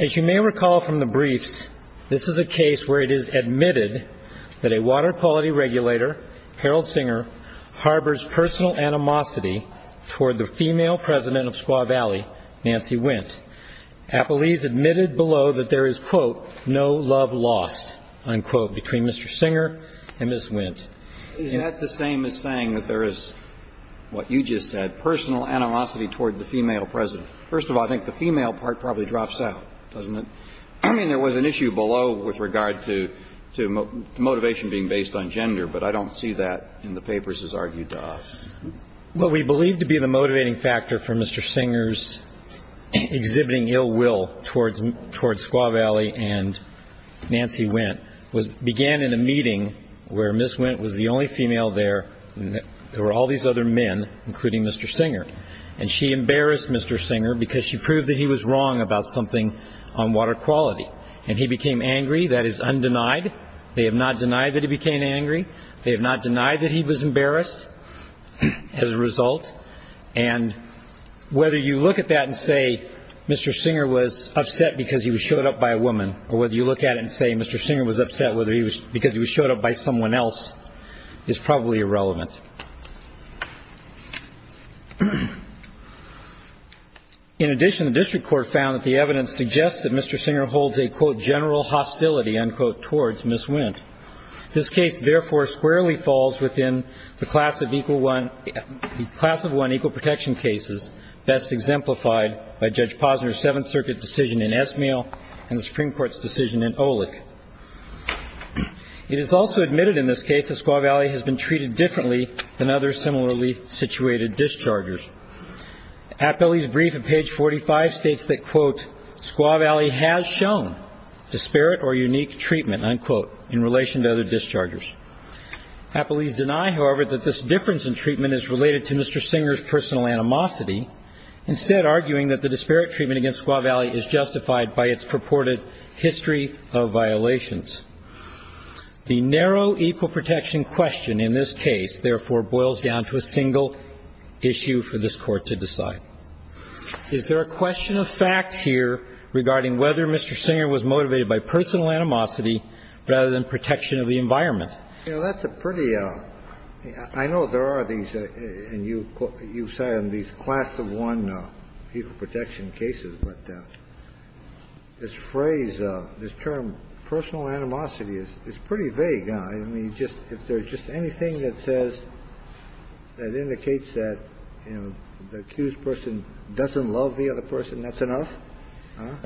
As you may recall from the briefs, this is a case where it is admitted that a water quality went. Appellees admitted below that there is, quote, no love lost, unquote, between Mr. Singer and Ms. Wint. Is that the same as saying that there is, what you just said, personal animosity toward the female president? First of all, I think the female part probably drops out, doesn't it? I mean, there was an issue below with regard to motivation being based on gender, but I don't see that in the papers as argued to us. Well, we believe to be the motivating factor for Mr. Singer's exhibiting ill will towards Squaw Valley and Nancy Wint began in a meeting where Ms. Wint was the only female there, and there were all these other men, including Mr. Singer, and she embarrassed Mr. Singer because she proved that he was wrong about something on water quality, and he became angry. That is undenied. They have not denied that he became angry. They have not denied that he was embarrassed as a result, and whether you look at that and say Mr. Singer was upset because he was showed up by a woman or whether you look at it and say Mr. Singer was upset because he was showed up by someone else is probably irrelevant. In addition, the district court found that the evidence suggests that Mr. Singer holds a, quote, general hostility, unquote, towards Ms. Wint. This case, therefore, squarely falls within the class of equal one, the class of one equal protection cases best exemplified by Judge Posner's Seventh Circuit decision in Esmail and the Supreme Court's decision in Olick. It is also admitted in this case that Squaw Valley has been treated differently than other similarly situated dischargers. Appellee's brief at page 45 states that, quote, Squaw Valley has shown disparate or unique treatment, unquote, in relation to other dischargers. Appellee's deny, however, that this difference in treatment is related to Mr. Singer's personal animosity, instead arguing that the disparate treatment against Squaw Valley is justified by its purported history of violations. The narrow equal protection question in this case, therefore, boils down to a single issue for this court to decide. Is there a question of facts here regarding whether Mr. Singer was motivated by personal animosity rather than protection of the environment? You know, that's a pretty – I know there are these, and you cite them, these class of one equal protection cases, but this phrase, this term, personal animosity, is pretty vague, huh? I mean, if there's just anything that says, that indicates that, you know, the accused person doesn't love the other person, that's enough?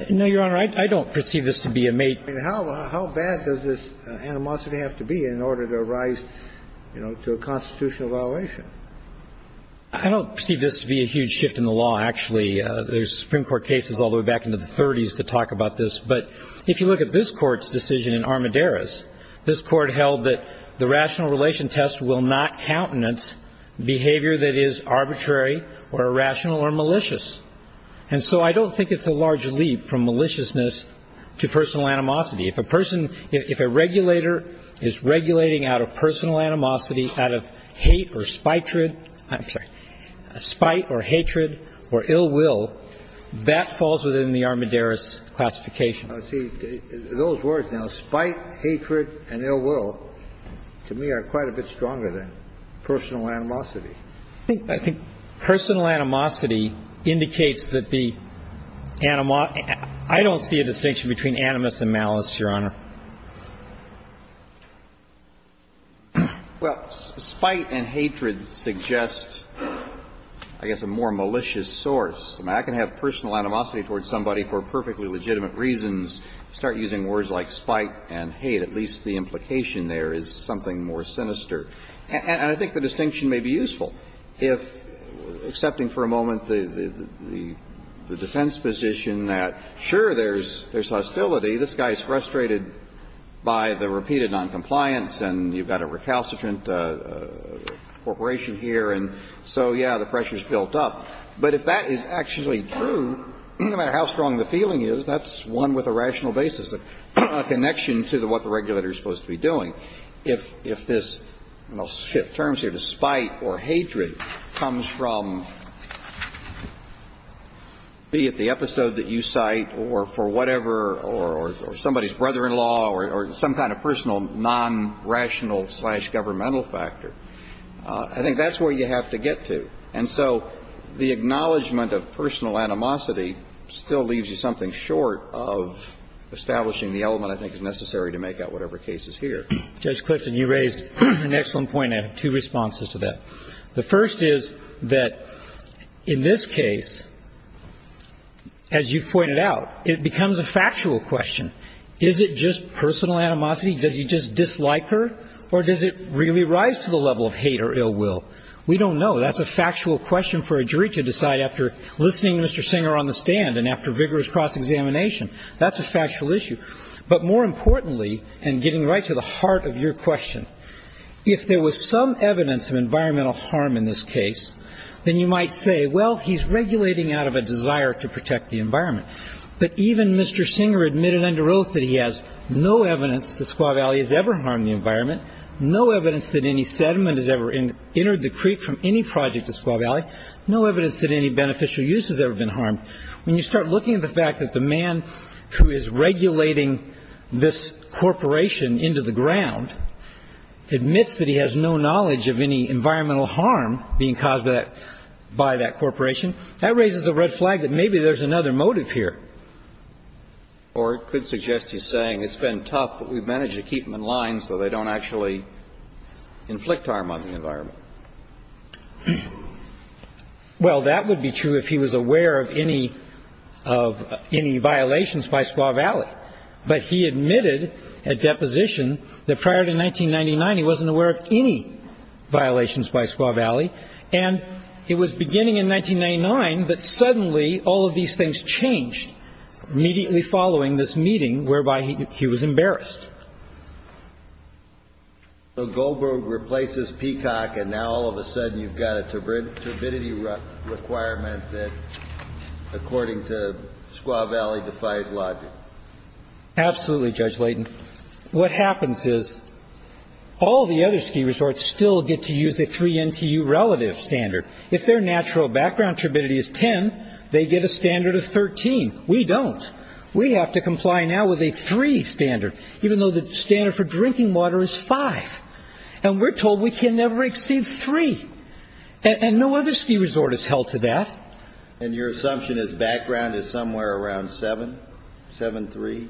No, Your Honor. I don't perceive this to be a mate. I mean, how bad does this animosity have to be in order to rise, you know, to a constitutional violation? I don't perceive this to be a huge shift in the law, actually. There's Supreme Court cases all the way back into the 30s that talk about this. But if you look at this Court's decision in Armideris, this Court held that the rational relation test will not countenance behavior that is arbitrary or irrational or malicious. And so I don't think it's a large leap from maliciousness to personal animosity. If a person – if a regulator is regulating out of personal animosity, out of hate or spite or hatred or ill will, that falls within the Armideris classification. See, those words now, spite, hatred and ill will, to me are quite a bit stronger than personal animosity. I think personal animosity indicates that the – I don't see a distinction between animus and malice, Your Honor. Well, spite and hatred suggest, I guess, a more malicious source. I mean, I can have personal animosity towards somebody for perfectly legitimate reasons, start using words like spite and hate. At least the implication there is something more sinister. And I think the distinction may be useful if, excepting for a moment the defense position that, sure, there's hostility. This guy is frustrated by the repeated noncompliance and you've got a recalcitrant corporation here. And so, yeah, the pressure is built up. But if that is actually true, no matter how strong the feeling is, that's one with a rational basis, a connection to what the regulator is supposed to be doing. So if this – and I'll shift terms here to spite or hatred comes from, be it the episode that you cite or for whatever or somebody's brother-in-law or some kind of personal non-rational slash governmental factor, I think that's where you have to get to. And so the acknowledgment of personal animosity still leaves you something short of establishing the element, I think, that is necessary to make out whatever case is here. Judge Clifton, you raised an excellent point. I have two responses to that. The first is that in this case, as you've pointed out, it becomes a factual question. Is it just personal animosity? Does he just dislike her? Or does it really rise to the level of hate or ill will? We don't know. That's a factual question for a jury to decide after listening to Mr. Singer on the stand and after vigorous cross-examination. That's a factual issue. But more importantly, and getting right to the heart of your question, if there was some evidence of environmental harm in this case, then you might say, well, he's regulating out of a desire to protect the environment. But even Mr. Singer admitted under oath that he has no evidence the Squaw Valley has ever harmed the environment, no evidence that any sediment has ever entered the creek from any project at Squaw Valley, no evidence that any beneficial use has ever been harmed. When you start looking at the fact that the man who is regulating this corporation into the ground admits that he has no knowledge of any environmental harm being caused by that corporation, that raises a red flag that maybe there's another motive here. Or it could suggest he's saying it's been tough, but we've managed to keep them in line so they don't actually inflict harm on the environment. Well, that would be true if he was aware of any violations by Squaw Valley. But he admitted at deposition that prior to 1999 he wasn't aware of any violations by Squaw Valley. And it was beginning in 1999 that suddenly all of these things changed immediately following this meeting, whereby he was embarrassed. So Goldberg replaces Peacock, and now all of a sudden you've got a turbidity requirement that according to Squaw Valley defies logic. Absolutely, Judge Layton. What happens is all the other ski resorts still get to use a 3 NTU relative standard. If their natural background turbidity is 10, they get a standard of 13. We don't. We have to comply now with a 3 standard. Even though the standard for drinking water is 5. And we're told we can never exceed 3. And no other ski resort is held to that. And your assumption is background is somewhere around 7, 7.3?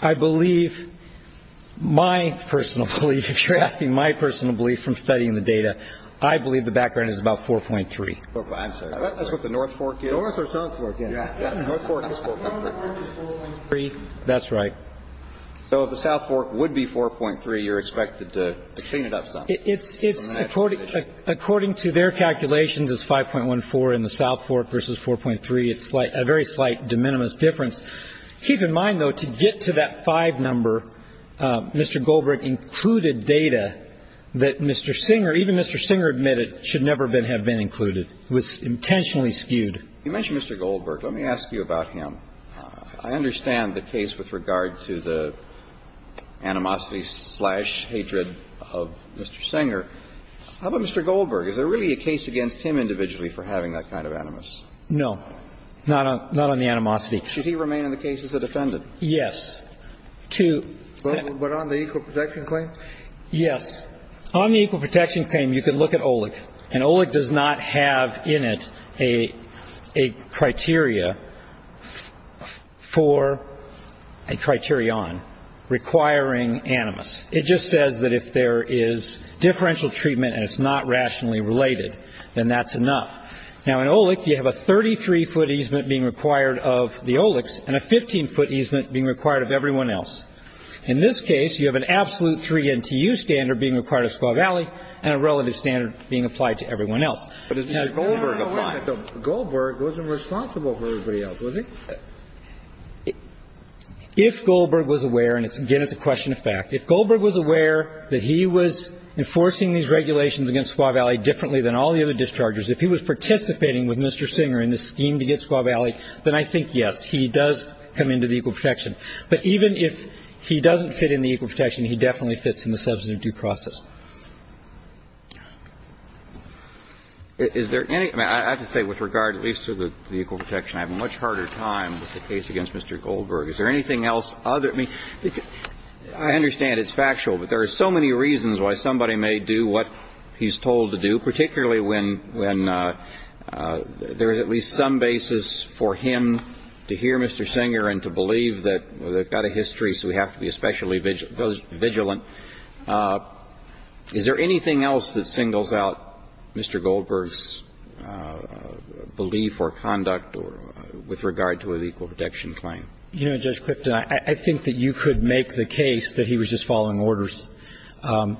I believe my personal belief, if you're asking my personal belief from studying the data, I believe the background is about 4.3. I'm sorry. That's what the North Fork is. North or South Fork is. North Fork is 4.3. That's right. So if the South Fork would be 4.3, you're expected to clean it up some. It's according to their calculations, it's 5.14 in the South Fork versus 4.3. It's a very slight de minimis difference. Keep in mind, though, to get to that 5 number, Mr. Goldberg included data that Mr. Singer, even Mr. Singer admitted, should never have been included. It was intentionally skewed. You mentioned Mr. Goldberg. Let me ask you about him. I understand the case with regard to the animosity slash hatred of Mr. Singer. How about Mr. Goldberg? Is there really a case against him individually for having that kind of animus? No. Not on the animosity. Should he remain in the case as a defendant? Yes. But on the equal protection claim? Yes. On the equal protection claim, you can look at OLEC, and OLEC does not have in it a criteria for a criterion requiring animus. It just says that if there is differential treatment and it's not rationally related, then that's enough. Now, in OLEC, you have a 33-foot easement being required of the OLECs and a 15-foot easement being required of everyone else. In this case, you have an absolute 3 NTU standard being required of Squaw Valley and a relative standard being applied to everyone else. But did Mr. Goldberg apply? No, no, no. Goldberg wasn't responsible for everybody else, was he? If Goldberg was aware, and, again, it's a question of fact, if Goldberg was aware that he was enforcing these regulations against Squaw Valley differently than all the other dischargers, if he was participating with Mr. Singer in this scheme to get Squaw Valley, then I think, yes, he does come into the equal protection. But even if he doesn't fit in the equal protection, he definitely fits in the substantive due process. Is there any – I mean, I have to say, with regard at least to the equal protection, I have a much harder time with the case against Mr. Goldberg. Is there anything else other – I mean, I understand it's factual, but there are so many reasons why somebody may do what he's told to do, particularly when there is at least some basis for him to hear Mr. Singer and to believe that they've got a history, so we have to be especially vigilant. Is there anything else that singles out Mr. Goldberg's belief or conduct with regard to an equal protection claim? You know, Judge Clifton, I think that you could make the case that he was just following orders.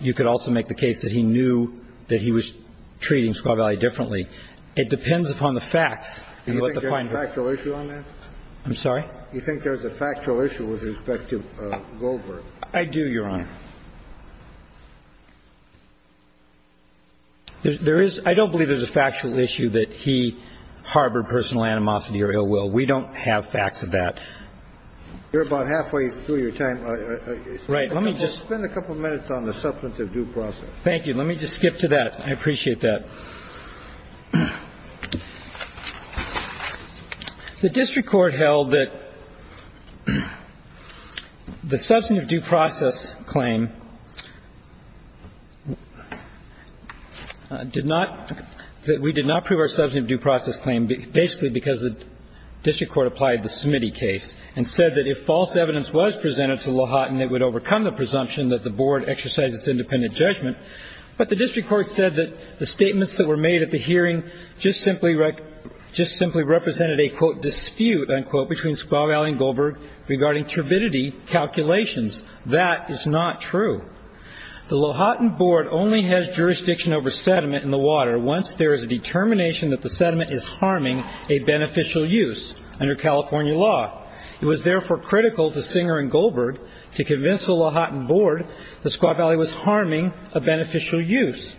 You could also make the case that he knew that he was treating Squaw Valley differently. It depends upon the facts. Do you think there's a factual issue on that? I'm sorry? Do you think there's a factual issue with respect to Goldberg? I do, Your Honor. There is – I don't believe there's a factual issue that he harbored personal animosity or ill will. We don't have facts of that. You're about halfway through your time. Right. Let me just – Spend a couple minutes on the substantive due process. Thank you. Let me just skip to that. I appreciate that. The district court held that the substantive due process claim did not – that we did not prove our substantive due process claim basically because the district court applied the Smitty case and said that if false evidence was presented to LaHutton, it would overcome the presumption that the board exercised its independent judgment. But the district court said that the statements that were made at the hearing just simply represented a, quote, dispute, unquote, between Squaw Valley and Goldberg regarding turbidity calculations. That is not true. The LaHutton board only has jurisdiction over sediment in the water once there is a determination that the sediment is harming a beneficial use under California law. It was therefore critical to Singer and Goldberg to convince the LaHutton board that Squaw Valley was harming a beneficial use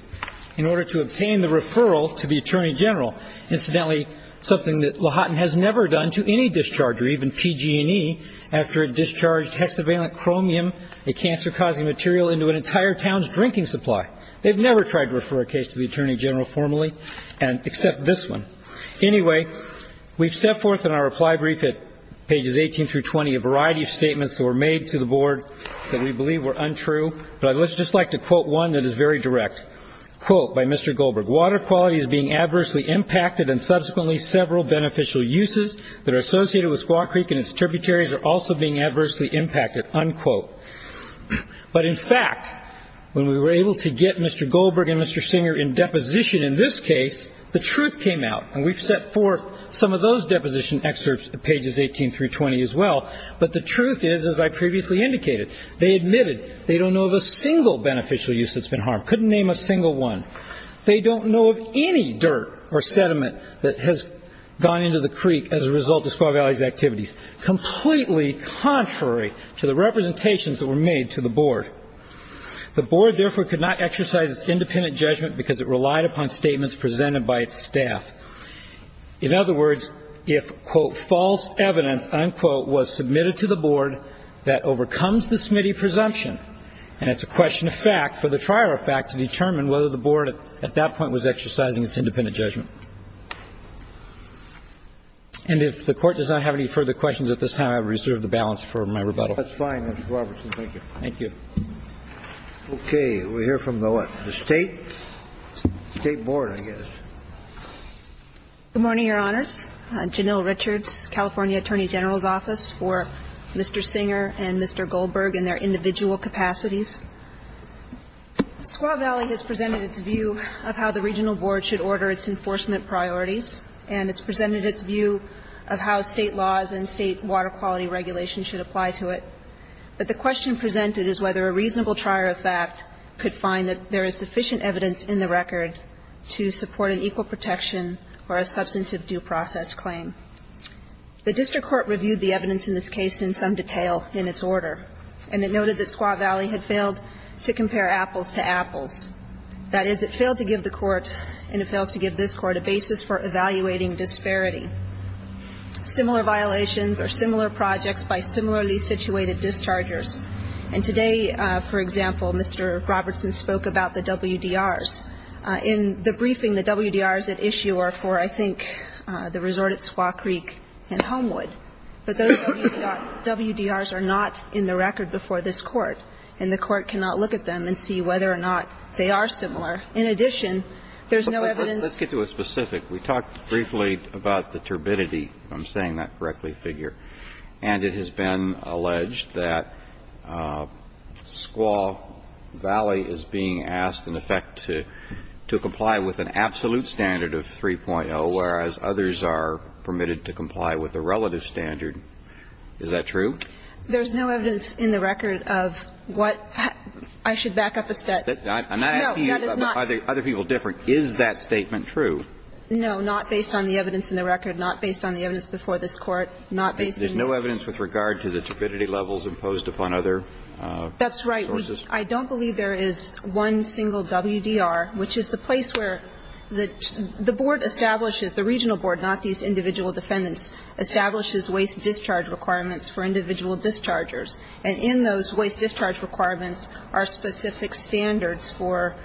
in order to obtain the referral to the attorney general. Incidentally, something that LaHutton has never done to any discharger, even PG&E, after it discharged hexavalent chromium, a cancer-causing material, into an entire town's drinking supply. They've never tried to refer a case to the attorney general formally, except this one. Anyway, we've set forth in our reply brief at pages 18 through 20 a variety of statements that were made to the board that we believe were untrue. But I would just like to quote one that is very direct. Quote by Mr. Goldberg, Water quality is being adversely impacted and subsequently several beneficial uses that are associated with Squaw Creek and its tributaries are also being adversely impacted, unquote. But in fact, when we were able to get Mr. Goldberg and Mr. Singer in deposition in this case, the truth came out. And we've set forth some of those deposition excerpts at pages 18 through 20 as well. But the truth is, as I previously indicated, they admitted they don't know of a single beneficial use that's been harmed. Couldn't name a single one. They don't know of any dirt or sediment that has gone into the creek as a result of Squaw Valley's activities, completely contrary to the representations that were made to the board. The board, therefore, could not exercise its independent judgment because it relied upon statements presented by its staff. In other words, if, quote, false evidence, unquote, was submitted to the board, that overcomes the Smitty presumption. And it's a question of fact for the trial of fact to determine whether the board at that point was exercising its independent judgment. And if the Court does not have any further questions at this time, I reserve the balance for my rebuttal. That's fine, Mr. Robertson. Thank you. Thank you. Okay. We'll hear from the what? The State? State board, I guess. Good morning, Your Honors. Janelle Richards, California Attorney General's Office, for Mr. Singer and Mr. Goldberg and their individual capacities. Squaw Valley has presented its view of how the regional board should order its enforcement priorities, and it's presented its view of how State laws and State water quality regulations should apply to it. But the question presented is whether a reasonable trial of fact could find that there is sufficient evidence in the record to support an equal protection or a substantive due process claim. The district court reviewed the evidence in this case in some detail in its order, and it noted that Squaw Valley had failed to compare apples to apples. That is, it failed to give the Court, and it fails to give this Court, a basis for evaluating disparity. Similar violations or similar projects by similarly situated dischargers. And today, for example, Mr. Robertson spoke about the WDRs. In the briefing, the WDRs at issue are for, I think, the resort at Squaw Creek and Homewood. But those WDRs are not in the record before this Court, and the Court cannot look at them and see whether or not they are similar. In addition, there's no evidence to support that. Let's get to a specific. We talked briefly about the turbidity, if I'm saying that correctly, figure. And it has been alleged that Squaw Valley is being asked, in effect, to comply with an absolute standard of 3.0, whereas others are permitted to comply with a relative standard. Is that true? There's no evidence in the record of what – I should back up a step. I'm not asking you. No, that is not. Are the other people different? Is that statement true? No. Not based on the evidence in the record, not based on the evidence before this Court, not based in the record. There's no evidence with regard to the turbidity levels imposed upon other sources? That's right. I don't believe there is one single WDR, which is the place where the board establishes – the regional board, not these individual defendants – establishes waste discharge requirements for individual dischargers. And in those waste discharge requirements are specific standards for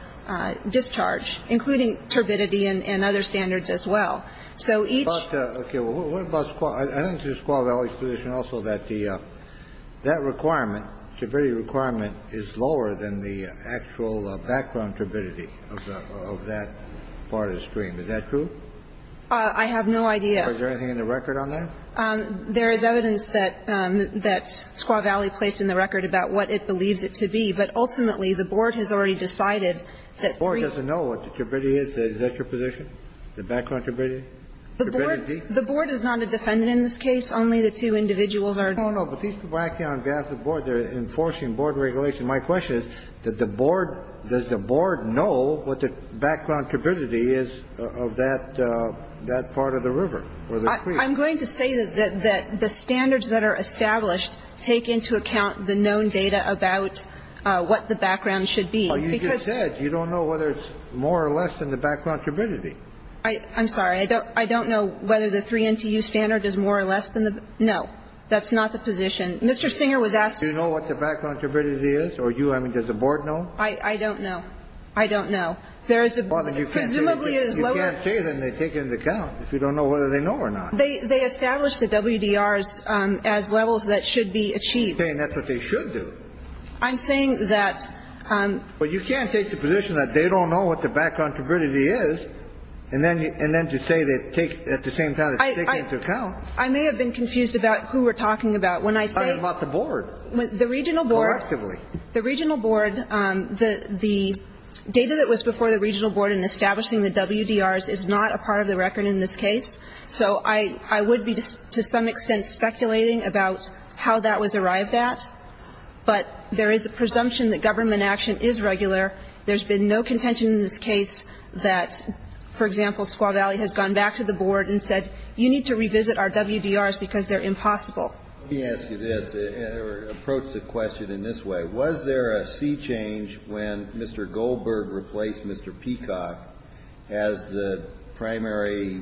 discharge, including turbidity and other standards as well. So each – Okay. What about Squaw? I understand Squaw Valley's position also that the – that requirement, turbidity requirement, is lower than the actual background turbidity of that part of the stream. Is that true? I have no idea. Is there anything in the record on that? There is evidence that Squaw Valley placed in the record about what it believes it to be. But ultimately, the board has already decided that three – The board doesn't know what the turbidity is? Is that your position? The background turbidity? Turbidity? The board is not a defendant in this case. Only the two individuals are – No, no. But these people are acting on behalf of the board. They're enforcing board regulation. My question is, did the board – does the board know what the background turbidity is of that part of the river or the creek? I'm going to say that the standards that are established take into account the known data about what the background should be, because – Well, you just said you don't know whether it's more or less than the background turbidity. I'm sorry. I don't know whether the 3 NTU standard is more or less than the – no. That's not the position. Mr. Singer was asked – Do you know what the background turbidity is? Or do you – I mean, does the board know? I don't know. I don't know. There is a – Well, then you can't say – Presumably, it is lower – You can't say that, and they take it into account if you don't know whether they know or not. They establish the WDRs as levels that should be achieved. You're saying that's what they should do. I'm saying that – Well, you can't take the position that they don't know what the background turbidity is, and then to say they take – at the same time, they take it into account. I may have been confused about who we're talking about when I say – I am not the board. The regional board – Collectively. The regional board – the data that was before the regional board in establishing the WDRs is not a part of the record in this case, so I would be, to some extent, speculating about how that was arrived at, but there is a presumption that government action is regular. There's been no contention in this case that, for example, Squaw Valley has gone back to the board and said, you need to revisit our WDRs because they're impossible. Let me ask you this, or approach the question in this way. Was there a sea change when Mr. Goldberg replaced Mr. Peacock as the primary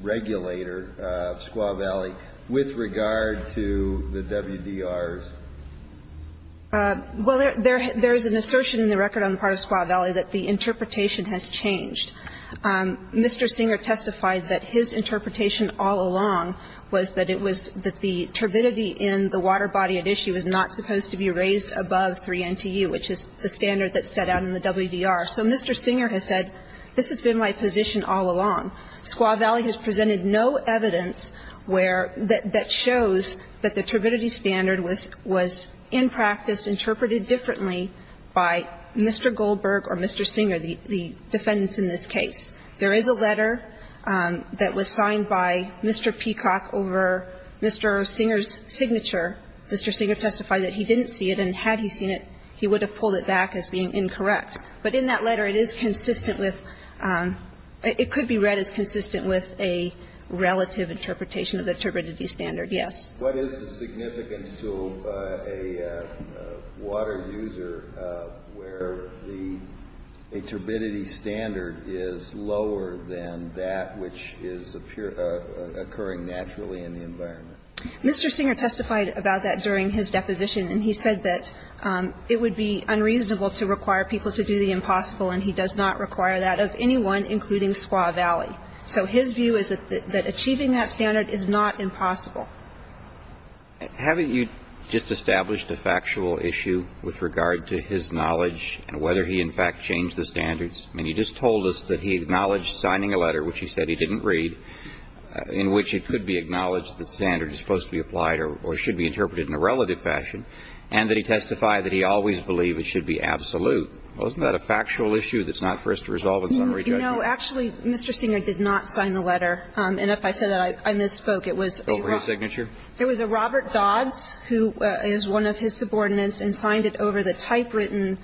regulator of Squaw Valley with regard to the WDRs? Well, there is an assertion in the record on the part of Squaw Valley that the interpretation has changed. Mr. Singer testified that his interpretation all along was that it was – that the turbidity in the water body at issue is not supposed to be raised above 3 NTU, which is the standard that's set out in the WDR. So Mr. Singer has said, this has been my position all along. Squaw Valley has presented no evidence where – that shows that the turbidity standard was in practice interpreted differently by Mr. Goldberg or Mr. Singer, the defendants in this case. There is a letter that was signed by Mr. Peacock over Mr. Singer's signature. Mr. Singer testified that he didn't see it, and had he seen it, he would have pulled it back as being incorrect. But in that letter, it is consistent with – it could be read as consistent with a relative interpretation of the turbidity standard, yes. What is the significance to a water user where the – a turbidity standard is lower than that which is occurring naturally in the environment? Mr. Singer testified about that during his deposition, and he said that it would be unreasonable to require people to do the impossible, and he does not require that of anyone, including Squaw Valley. So his view is that achieving that standard is not impossible. Haven't you just established a factual issue with regard to his knowledge and whether he in fact changed the standards? I mean, he just told us that he acknowledged signing a letter, which he said he didn't read, in which it could be acknowledged that the standard is supposed to be applied or should be interpreted in a relative fashion, and that he testified that he always believed it should be absolute. Well, isn't that a factual issue that's not for us to resolve in summary judgment? No. Actually, Mr. Singer did not sign the letter. And if I said that, I misspoke. It was a Robert Dodds, who is one of his subordinates, and signed it over the typewritten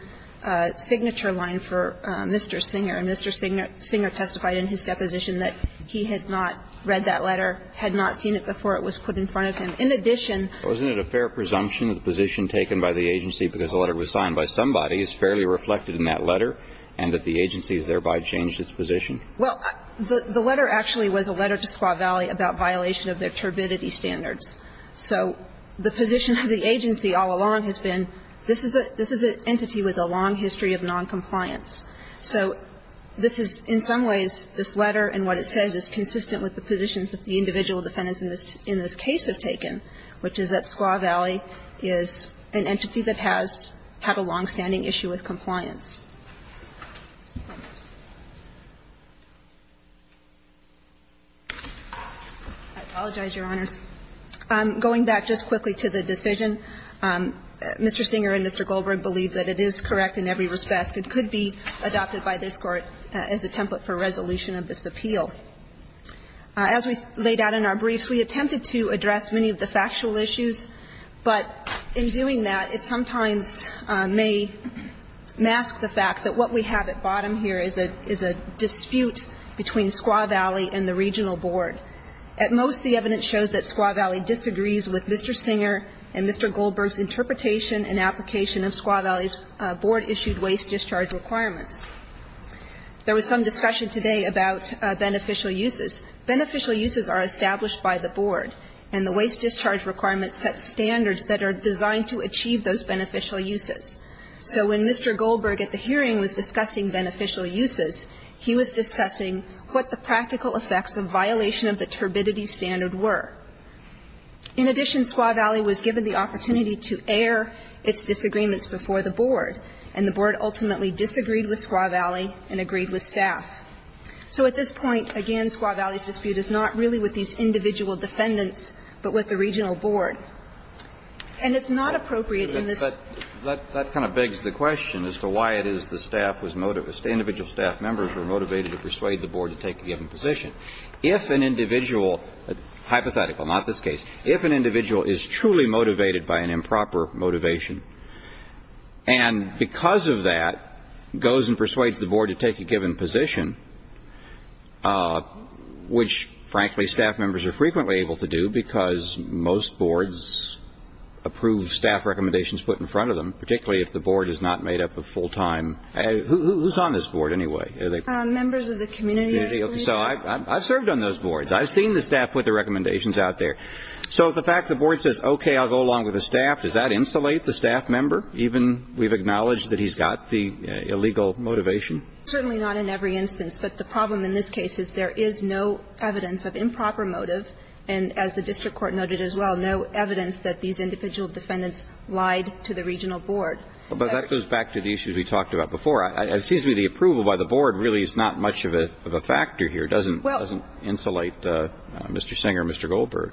signature line for Mr. Singer, and Mr. Singer testified in his deposition that he had not read that letter, had not seen it before it was put in front of him. In addition to that, Mr. Singer did not sign the letter. Wasn't it a fair presumption that the position taken by the agency because the letter was signed by somebody is fairly reflected in that letter and that the agency has thereby changed its position? Well, the letter actually was a letter to Squaw Valley about violation of their turbidity standards. So the position of the agency all along has been, this is an entity with a long history of noncompliance. So this is, in some ways, this letter and what it says is consistent with the positions that the individual defendants in this case have taken, which is that Squaw Valley is an entity that has had a longstanding issue with compliance. I apologize, Your Honors. Going back just quickly to the decision, Mr. Singer and Mr. Goldberg believe that it is correct in every respect. It could be adopted by this Court as a template for resolution of this appeal. As we laid out in our briefs, we attempted to address many of the factual issues, but in doing that, it sometimes may mask the fact that what we have at bottom here is a dispute between Squaw Valley and the regional board. At most, the evidence shows that Squaw Valley disagrees with Mr. Singer and Mr. Goldberg's interpretation and application of Squaw Valley's board-issued waste discharge requirements. There was some discussion today about beneficial uses. Beneficial uses are established by the board, and the waste discharge requirements set standards that are designed to achieve those beneficial uses. So when Mr. Goldberg at the hearing was discussing beneficial uses, he was discussing what the practical effects of violation of the turbidity standard were. In addition, Squaw Valley was given the opportunity to air its disagreements before the board, and the board ultimately disagreed with Squaw Valley and agreed with staff. So at this point, again, Squaw Valley's dispute is not really with these individual defendants, but with the regional board. And it's not appropriate in this case. Kennedy. But that kind of begs the question as to why it is the staff was motivated to persuade the board to take a given position. If an individual, hypothetical, not this case, if an individual is truly motivated by an improper motivation, and because of that goes and persuades the board to take a given position, which, frankly, staff members are frequently able to do because most boards approve staff recommendations put in front of them, particularly if the board is not made up of full-time. Who's on this board anyway? Members of the community, I believe. So I've served on those boards. I've seen the staff put the recommendations out there. So the fact the board says, okay, I'll go along with the staff, does that insulate the staff member, even we've acknowledged that he's got the illegal motivation? Certainly not in every instance. But the problem in this case is there is no evidence of improper motive, and as the district court noted as well, no evidence that these individual defendants lied to the regional board. But that goes back to the issues we talked about before. It seems to me the approval by the board really is not much of a factor here. It doesn't insulate Mr. Singer, Mr. Goldberg.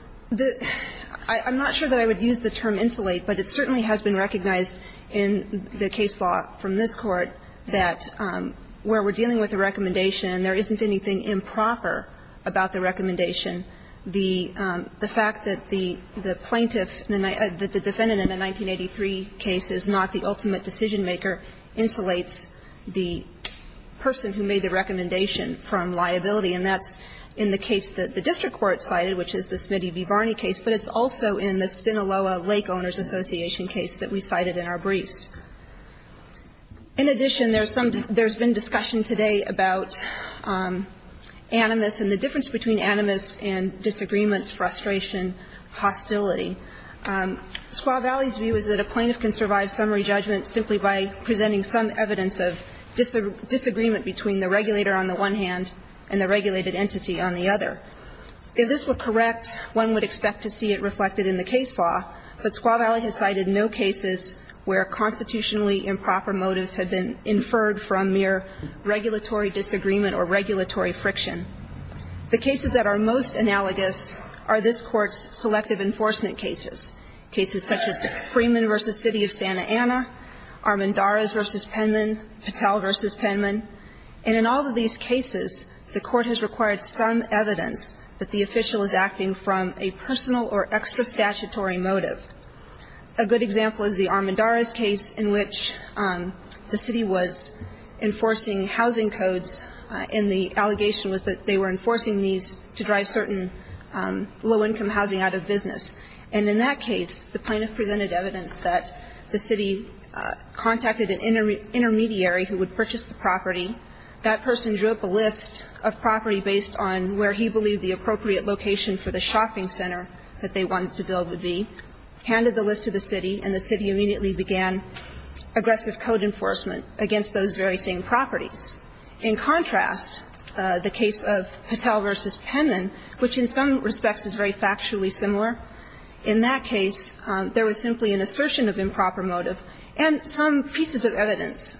I'm not sure that I would use the term insulate, but it certainly has been recognized in the case law from this Court that where we're dealing with a recommendation and there isn't anything improper about the recommendation, the fact that the plaintiff the defendant in the 1983 case is not the ultimate decision-maker insulates the person who made the recommendation from liability, and that's in the case that the district court cited, which is the Smitty v. Varney case, but it's also in the Sinaloa Lake Owners Association case that we cited in our briefs. In addition, there's been discussion today about animus and the difference between animus and disagreement, frustration, hostility. Squaw Valley's view is that a plaintiff can survive summary judgment simply by presenting some evidence of disagreement between the regulator on the one hand and the regulated entity on the other. If this were correct, one would expect to see it reflected in the case law, but Squaw Valley has cited no cases where constitutionally improper motives have been inferred from mere regulatory disagreement or regulatory friction. The cases that are most analogous are this Court's selective enforcement cases, cases such as Freeman v. City of Santa Ana, Armendariz v. Penman, Patel v. Penman. And in all of these cases, the Court has required some evidence that the official is acting from a personal or extra-statutory motive. A good example is the Armendariz case in which the city was enforcing housing codes and the allegation was that they were enforcing these to drive certain low-income housing out of business. And in that case, the plaintiff presented evidence that the city contacted an intermediary who would purchase the property. That person drew up a list of property based on where he believed the appropriate location for the shopping center that they wanted to build would be, handed the list to the city, and the city immediately began aggressive code enforcement against those very same properties. In contrast, the case of Patel v. Penman, which in some respects is very factually similar, in that case, there was simply an assertion of improper motive and some pieces of evidence.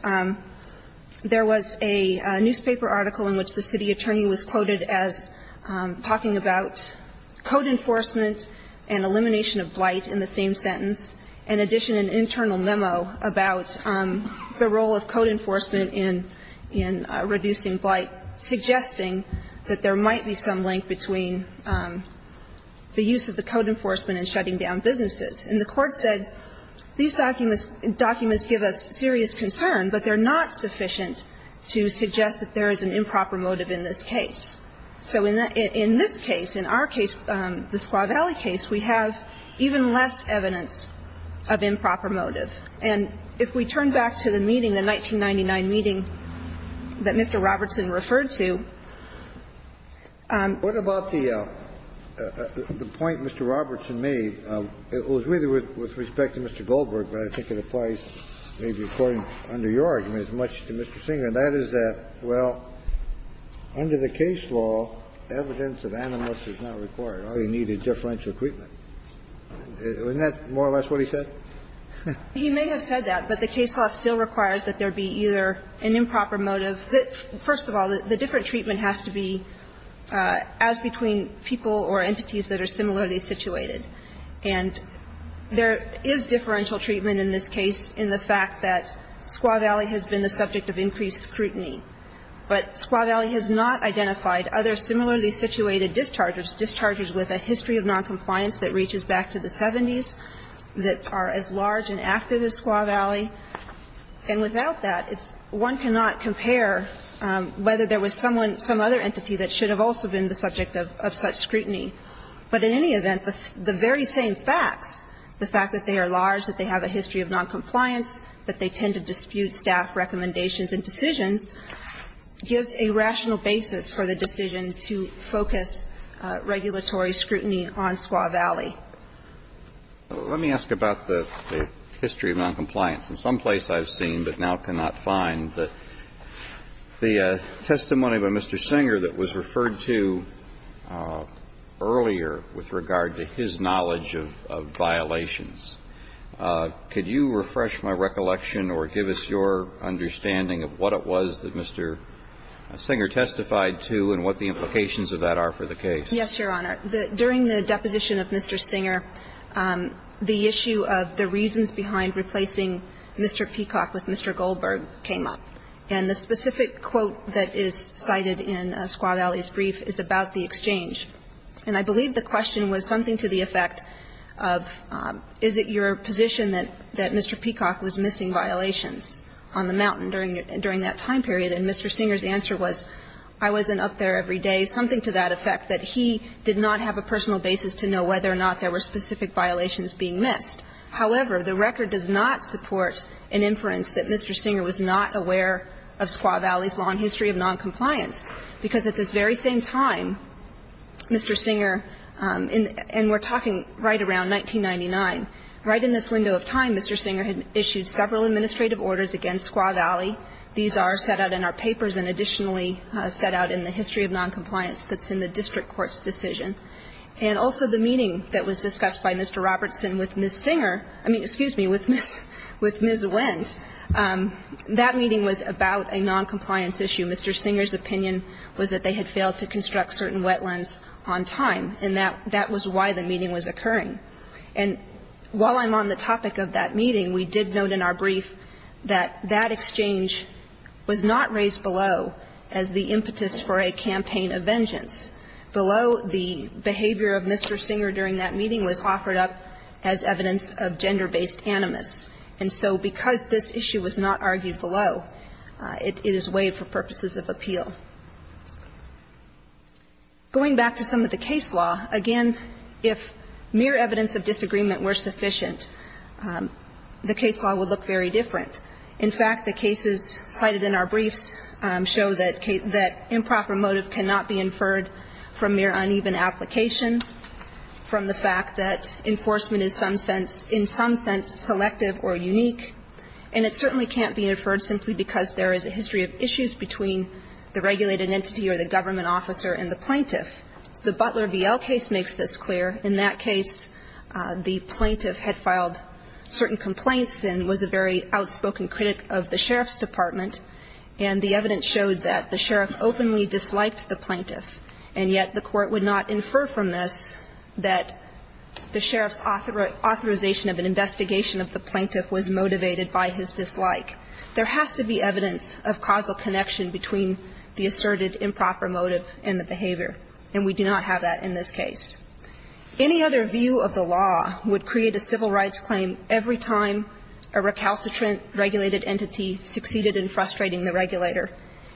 There was a newspaper article in which the city attorney was quoted as talking about code enforcement and elimination of blight in the same sentence, in addition an internal memo about the role of code enforcement in reducing blight, suggesting that there might be some link between the use of the code enforcement and shutting down businesses. And the Court said, these documents give us serious concern, but they're not sufficient to suggest that there is an improper motive in this case. So in this case, in our case, the Squaw Valley case, we have even less evidence of improper motive. And if we turn back to the meeting, the 1999 meeting that Mr. Robertson referred to, what about the point Mr. Robertson made? It was really with respect to Mr. Goldberg, but I think it applies maybe according under your argument as much to Mr. Singer, and that is that, well, under the case law, evidence of animus is not required. All you need is differential treatment. Isn't that more or less what he said? He may have said that, but the case law still requires that there be either an improper motive. First of all, the different treatment has to be as between people or entities that are similarly situated. And there is differential treatment in this case in the fact that Squaw Valley has been the subject of increased scrutiny. But Squaw Valley has not identified other similarly situated dischargers, dischargers with a history of noncompliance that reaches back to the 70s, that are as large and active as Squaw Valley. And without that, it's one cannot compare whether there was someone, some other entity that should have also been the subject of such scrutiny. But in any event, the very same facts, the fact that they are large, that they have a history of noncompliance, that they tend to dispute staff recommendations and decisions, gives a rational basis for the decision to focus regulatory scrutiny on Squaw Valley. Let me ask about the history of noncompliance. In some place I've seen, but now cannot find, the testimony by Mr. Singer that was referred to earlier with regard to his knowledge of violations. Could you refresh my recollection or give us your understanding of what it was that Mr. Singer testified to and what the implications of that are for the case? Yes, Your Honor. During the deposition of Mr. Singer, the issue of the reasons behind replacing Mr. Peacock with Mr. Goldberg came up. And the specific quote that is cited in Squaw Valley's brief is about the exchange. And I believe the question was something to the effect of, is it your position that Mr. Peacock was missing violations on the mountain during that time period? And Mr. Singer's answer was, I wasn't up there every day, something to that effect, that he did not have a personal basis to know whether or not there were specific violations being missed. However, the record does not support an inference that Mr. Singer was not aware of Squaw Valley. Mr. Singer, and we're talking right around 1999, right in this window of time, Mr. Singer had issued several administrative orders against Squaw Valley. These are set out in our papers and additionally set out in the history of noncompliance that's in the district court's decision. And also the meeting that was discussed by Mr. Robertson with Ms. Singer, I mean, excuse me, with Ms. Wendt, that meeting was about a noncompliance issue. Mr. Singer's opinion was that they had failed to construct certain wetlands on time, and that was why the meeting was occurring. And while I'm on the topic of that meeting, we did note in our brief that that exchange was not raised below as the impetus for a campaign of vengeance. Below, the behavior of Mr. Singer during that meeting was offered up as evidence of gender-based animus. And so because this issue was not argued below, it is weighed for purposes of appeal. Going back to some of the case law, again, if mere evidence of disagreement were sufficient, the case law would look very different. In fact, the cases cited in our briefs show that improper motive cannot be inferred from mere uneven application, from the fact that enforcement is some sense, in some sense, selective or unique, and it certainly can't be inferred simply because there is a history of issues between the regulated entity or the government officer and the plaintiff. The Butler v. L case makes this clear. In that case, the plaintiff had filed certain complaints and was a very outspoken critic of the sheriff's department, and the evidence showed that the sheriff openly disliked the plaintiff. And yet the Court would not infer from this that the sheriff's authorization of an investigation of the plaintiff was motivated by his dislike. There has to be evidence of causal connection between the asserted improper motive and the behavior, and we do not have that in this case. Any other view of the law would create a civil rights claim every time a recalcitrant regulated entity succeeded in frustrating the regulator,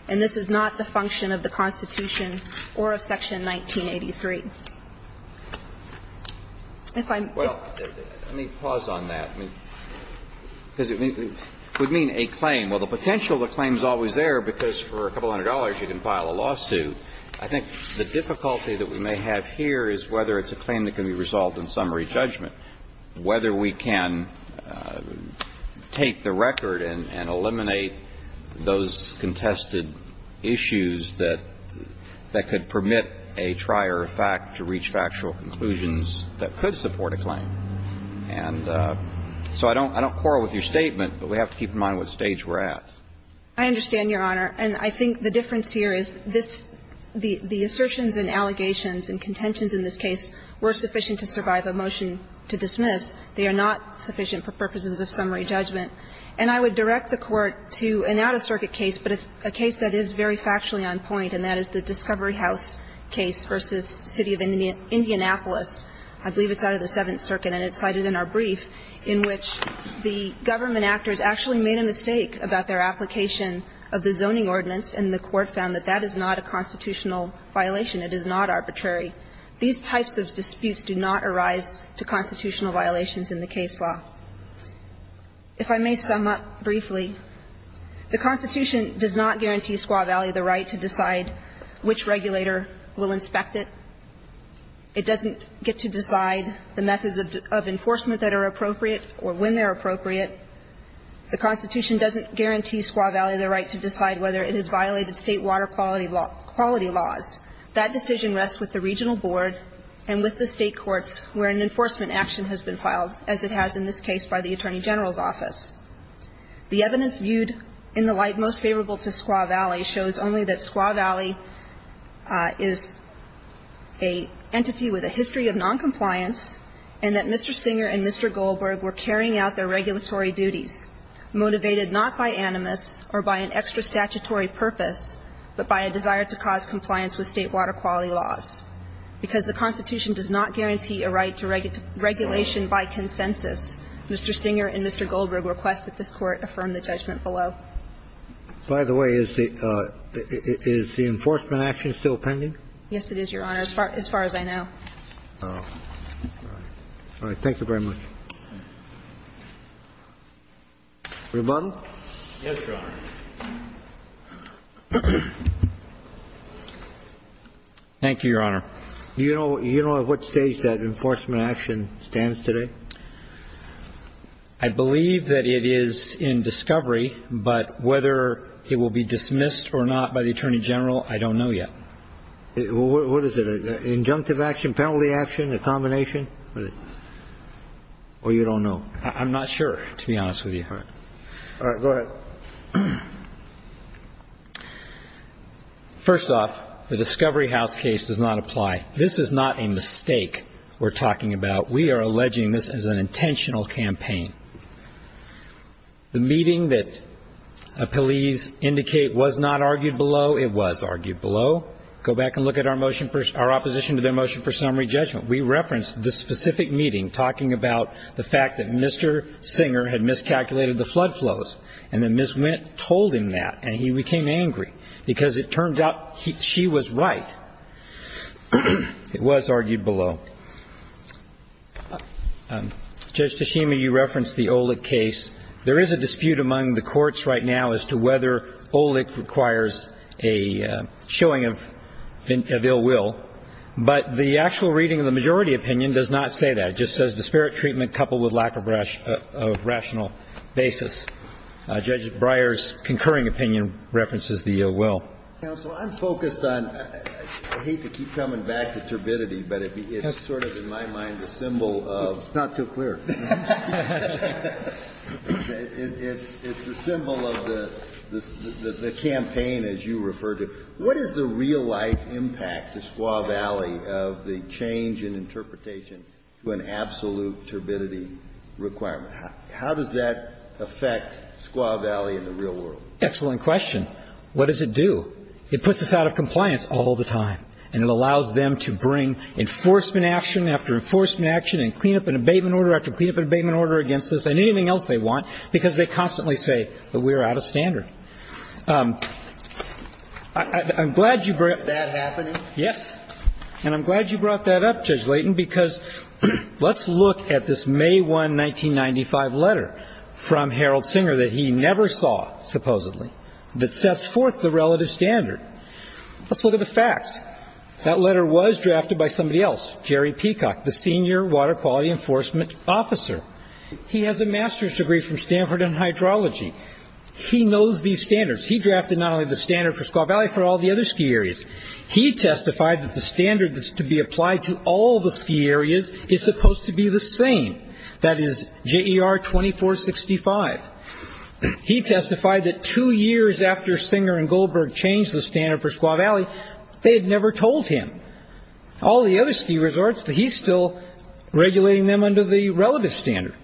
and this is not the function of the Constitution or of Section 1983. If I'm ---- Well, let me pause on that. Because it would mean a claim. Well, the potential of the claim is always there because for a couple hundred dollars you can file a lawsuit. I think the difficulty that we may have here is whether it's a claim that can be resolved in summary judgment, whether we can take the record and eliminate those contested issues that could permit a trier of fact to reach factual conclusions that could support a claim. And so I don't quarrel with your statement, but we have to keep in mind what stage we're at. I understand, Your Honor. And I think the difference here is this ---- the assertions and allegations and contentions in this case were sufficient to survive a motion to dismiss. They are not sufficient for purposes of summary judgment. And I would direct the Court to an out-of-circuit case, but a case that is very factually on point, and that is the Discovery House case v. City of Indianapolis. I believe it's out of the Seventh Circuit, and it's cited in our brief, in which the government actors actually made a mistake about their application of the zoning ordinance, and the Court found that that is not a constitutional violation. It is not arbitrary. These types of disputes do not arise to constitutional violations in the case law. If I may sum up briefly, the Constitution does not guarantee Squaw Valley the right to decide which regulator will inspect it. It doesn't get to decide the methods of enforcement that are appropriate or when they're appropriate. The Constitution doesn't guarantee Squaw Valley the right to decide whether it has violated State water quality laws. That decision rests with the regional board and with the State courts where an enforcement action has been filed, as it has in this case by the Attorney General's office. The evidence viewed in the light most favorable to Squaw Valley shows only that Squaw Valley is an entity with a history of noncompliance, and that Mr. Singer and Mr. Goldberg were carrying out their regulatory duties, motivated not by animus or by an extra statutory purpose, but by a desire to cause compliance with State water quality laws, because the Constitution does not guarantee a right to regulation by consensus. Mr. Singer and Mr. Goldberg request that this Court affirm the judgment below. By the way, is the enforcement action still pending? Yes, it is, Your Honor, as far as I know. All right. Thank you very much. Rebuttal? Yes, Your Honor. Thank you, Your Honor. Do you know at what stage that enforcement action stands today? I believe that it is in discovery, but whether it will be dismissed or not by the Attorney General, I don't know yet. What is it, an injunctive action, penalty action, a combination? Or you don't know? I'm not sure, to be honest with you. All right. Go ahead. Well, first off, the Discovery House case does not apply. This is not a mistake we're talking about. We are alleging this as an intentional campaign. The meeting that police indicate was not argued below, it was argued below. Go back and look at our motion for – our opposition to their motion for summary judgment. We referenced the specific meeting, talking about the fact that Mr. Singer had miscalculated the flood flows, and then Ms. Wendt told him that, and he became angry, because it turned out she was right. It was argued below. Judge Tashima, you referenced the Olic case. There is a dispute among the courts right now as to whether Olic requires a showing of ill will, but the actual reading of the majority opinion does not say that. It just says disparate treatment coupled with lack of rational basis. Judge Breyer's concurring opinion references the ill will. Counsel, I'm focused on – I hate to keep coming back to turbidity, but it's sort of, in my mind, a symbol of – It's not too clear. It's a symbol of the campaign, as you referred to. What is the real-life impact to Squaw Valley of the change in interpretation to an absolute turbidity requirement? How does that affect Squaw Valley in the real world? Excellent question. What does it do? It puts us out of compliance all the time, and it allows them to bring enforcement action after enforcement action and clean-up and abatement order after clean-up and abatement order against us and anything else they want, because they constantly say that we're out of standard. I'm glad you brought – Is that happening? Yes. And I'm glad you brought that up, Judge Layton, because let's look at this May 1, 1995 letter from Harold Singer that he never saw, supposedly, that sets forth the relative standard. Let's look at the facts. That letter was drafted by somebody else, Jerry Peacock, the senior water quality enforcement officer. He has a master's degree from Stanford in hydrology. He knows these standards. He drafted not only the standard for Squaw Valley, for all the other ski areas. He testified that the standard that's to be applied to all the ski areas is supposed to be the same, that is, JER 2465. He testified that two years after Singer and Goldberg changed the standard for Squaw Valley, they had never told him. All the other ski resorts, he's still regulating them under the relative standard.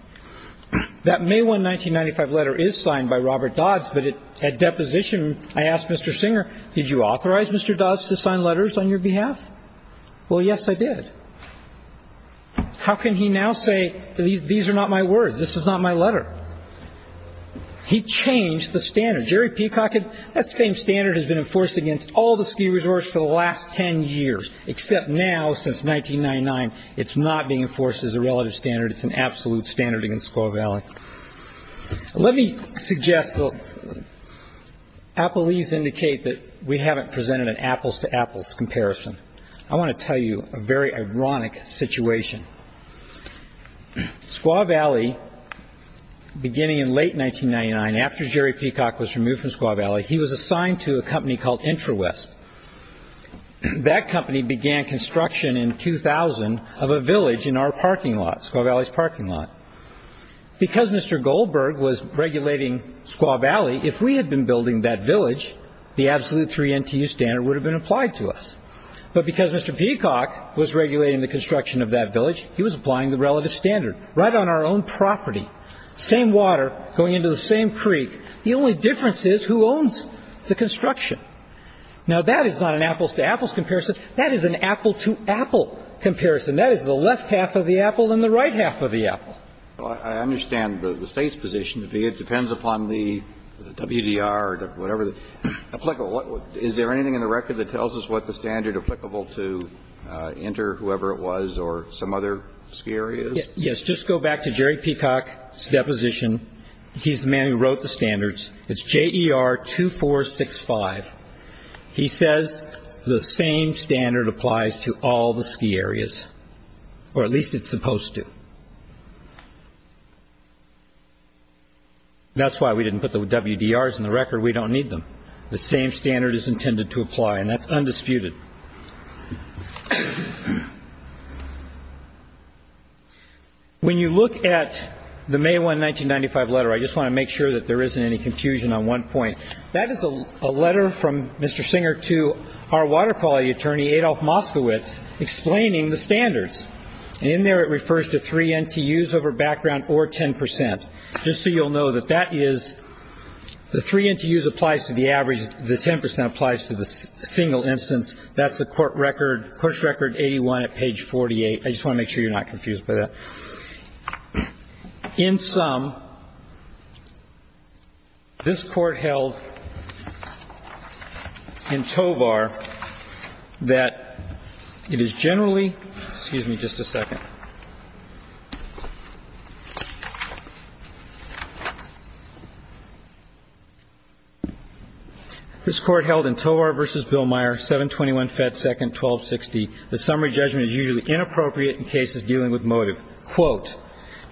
That May 1, 1995 letter is signed by Robert Dodds, but at deposition, I asked Mr. Singer, did you authorize Mr. Dodds to sign letters on your behalf? Well, yes, I did. How can he now say, these are not my words, this is not my letter? He changed the standard. Jerry Peacock, that same standard has been enforced against all the ski resorts for the last 10 years, except now, since 1999, it's not being enforced as a relative standard. It's an absolute standard against Squaw Valley. Let me suggest that Appleese indicate that we haven't presented an apples-to-apples comparison. I want to tell you a very ironic situation. Squaw Valley, beginning in late 1999, after Jerry Peacock was removed from Squaw Valley, he was assigned to a company called IntraWest. That company began construction in 2000 of a village in our parking lot, Squaw Valley's parking lot. Because Mr. Goldberg was regulating Squaw Valley, if we had been building that village, the absolute 3 NTU standard would have been applied to us. But because Mr. Peacock was regulating the construction of that village, he was applying the relative standard, right on our own property, same water, going into the same creek. The only difference is who owns the construction. Now that is not an apples-to-apples comparison. That is an apple-to-apple comparison. That is the left half of the apple and the right half of the apple. Well, I understand the State's position to be it depends upon the WDR or whatever. Is there anything in the record that tells us what the standard applicable to Intra, whoever it was, or some other ski area? Yes. Just go back to Jerry Peacock's deposition. He's the man who wrote the standards. It's JER 2465. He says the same standard applies to all the ski areas, or at least it's supposed to. That's why we didn't put the WDRs in the record. We don't need them. The same standard is intended to apply, and that's undisputed. Thank you. When you look at the May 1, 1995 letter, I just want to make sure that there isn't any confusion on one point. That is a letter from Mr. Singer to our water quality attorney, Adolph Moskowitz, explaining the standards. In there it refers to 3 NTUs over background or 10 percent. Just so you'll know that that is the 3 NTUs applies to the average, the 10 percent applies to the single instance. That's the court record, course record 81 at page 48. I just want to make sure you're not confused by that. In sum, this Court held in Tovar that it is generally – excuse me just a second. This Court held in Tovar v. Bill Meyer, 721 Fed Second 1260, the summary judgment is usually inappropriate in cases dealing with motive. Quote,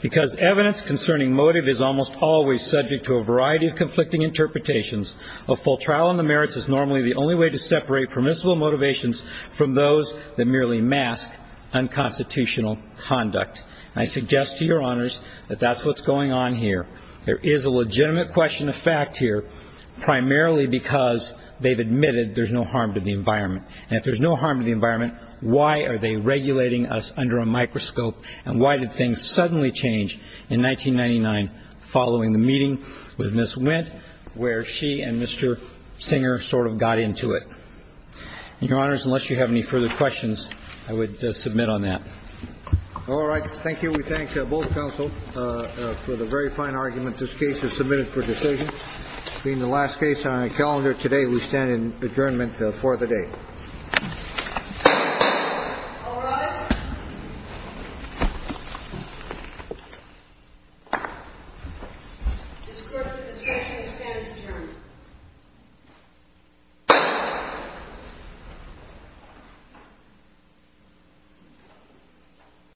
because evidence concerning motive is almost always subject to a variety of conflicting interpretations, a full trial on the merits is normally the only way to separate permissible motivations from those that merely mask unconstitutional conduct. I suggest to your honors that that's what's going on here. There is a legitimate question of fact here, primarily because they've admitted there's no harm to the environment. And if there's no harm to the environment, why are they regulating us under a microscope and why did things suddenly change in 1999 following the meeting with Ms. Wendt where she and Mr. Singer sort of got into it? Your honors, unless you have any further questions, I would submit on that. All right. Thank you. We thank both counsel for the very fine argument. This case is submitted for decision. Being the last case on our calendar today, we stand in adjournment for the day. All rise. This court for the destruction of the stand is adjourned.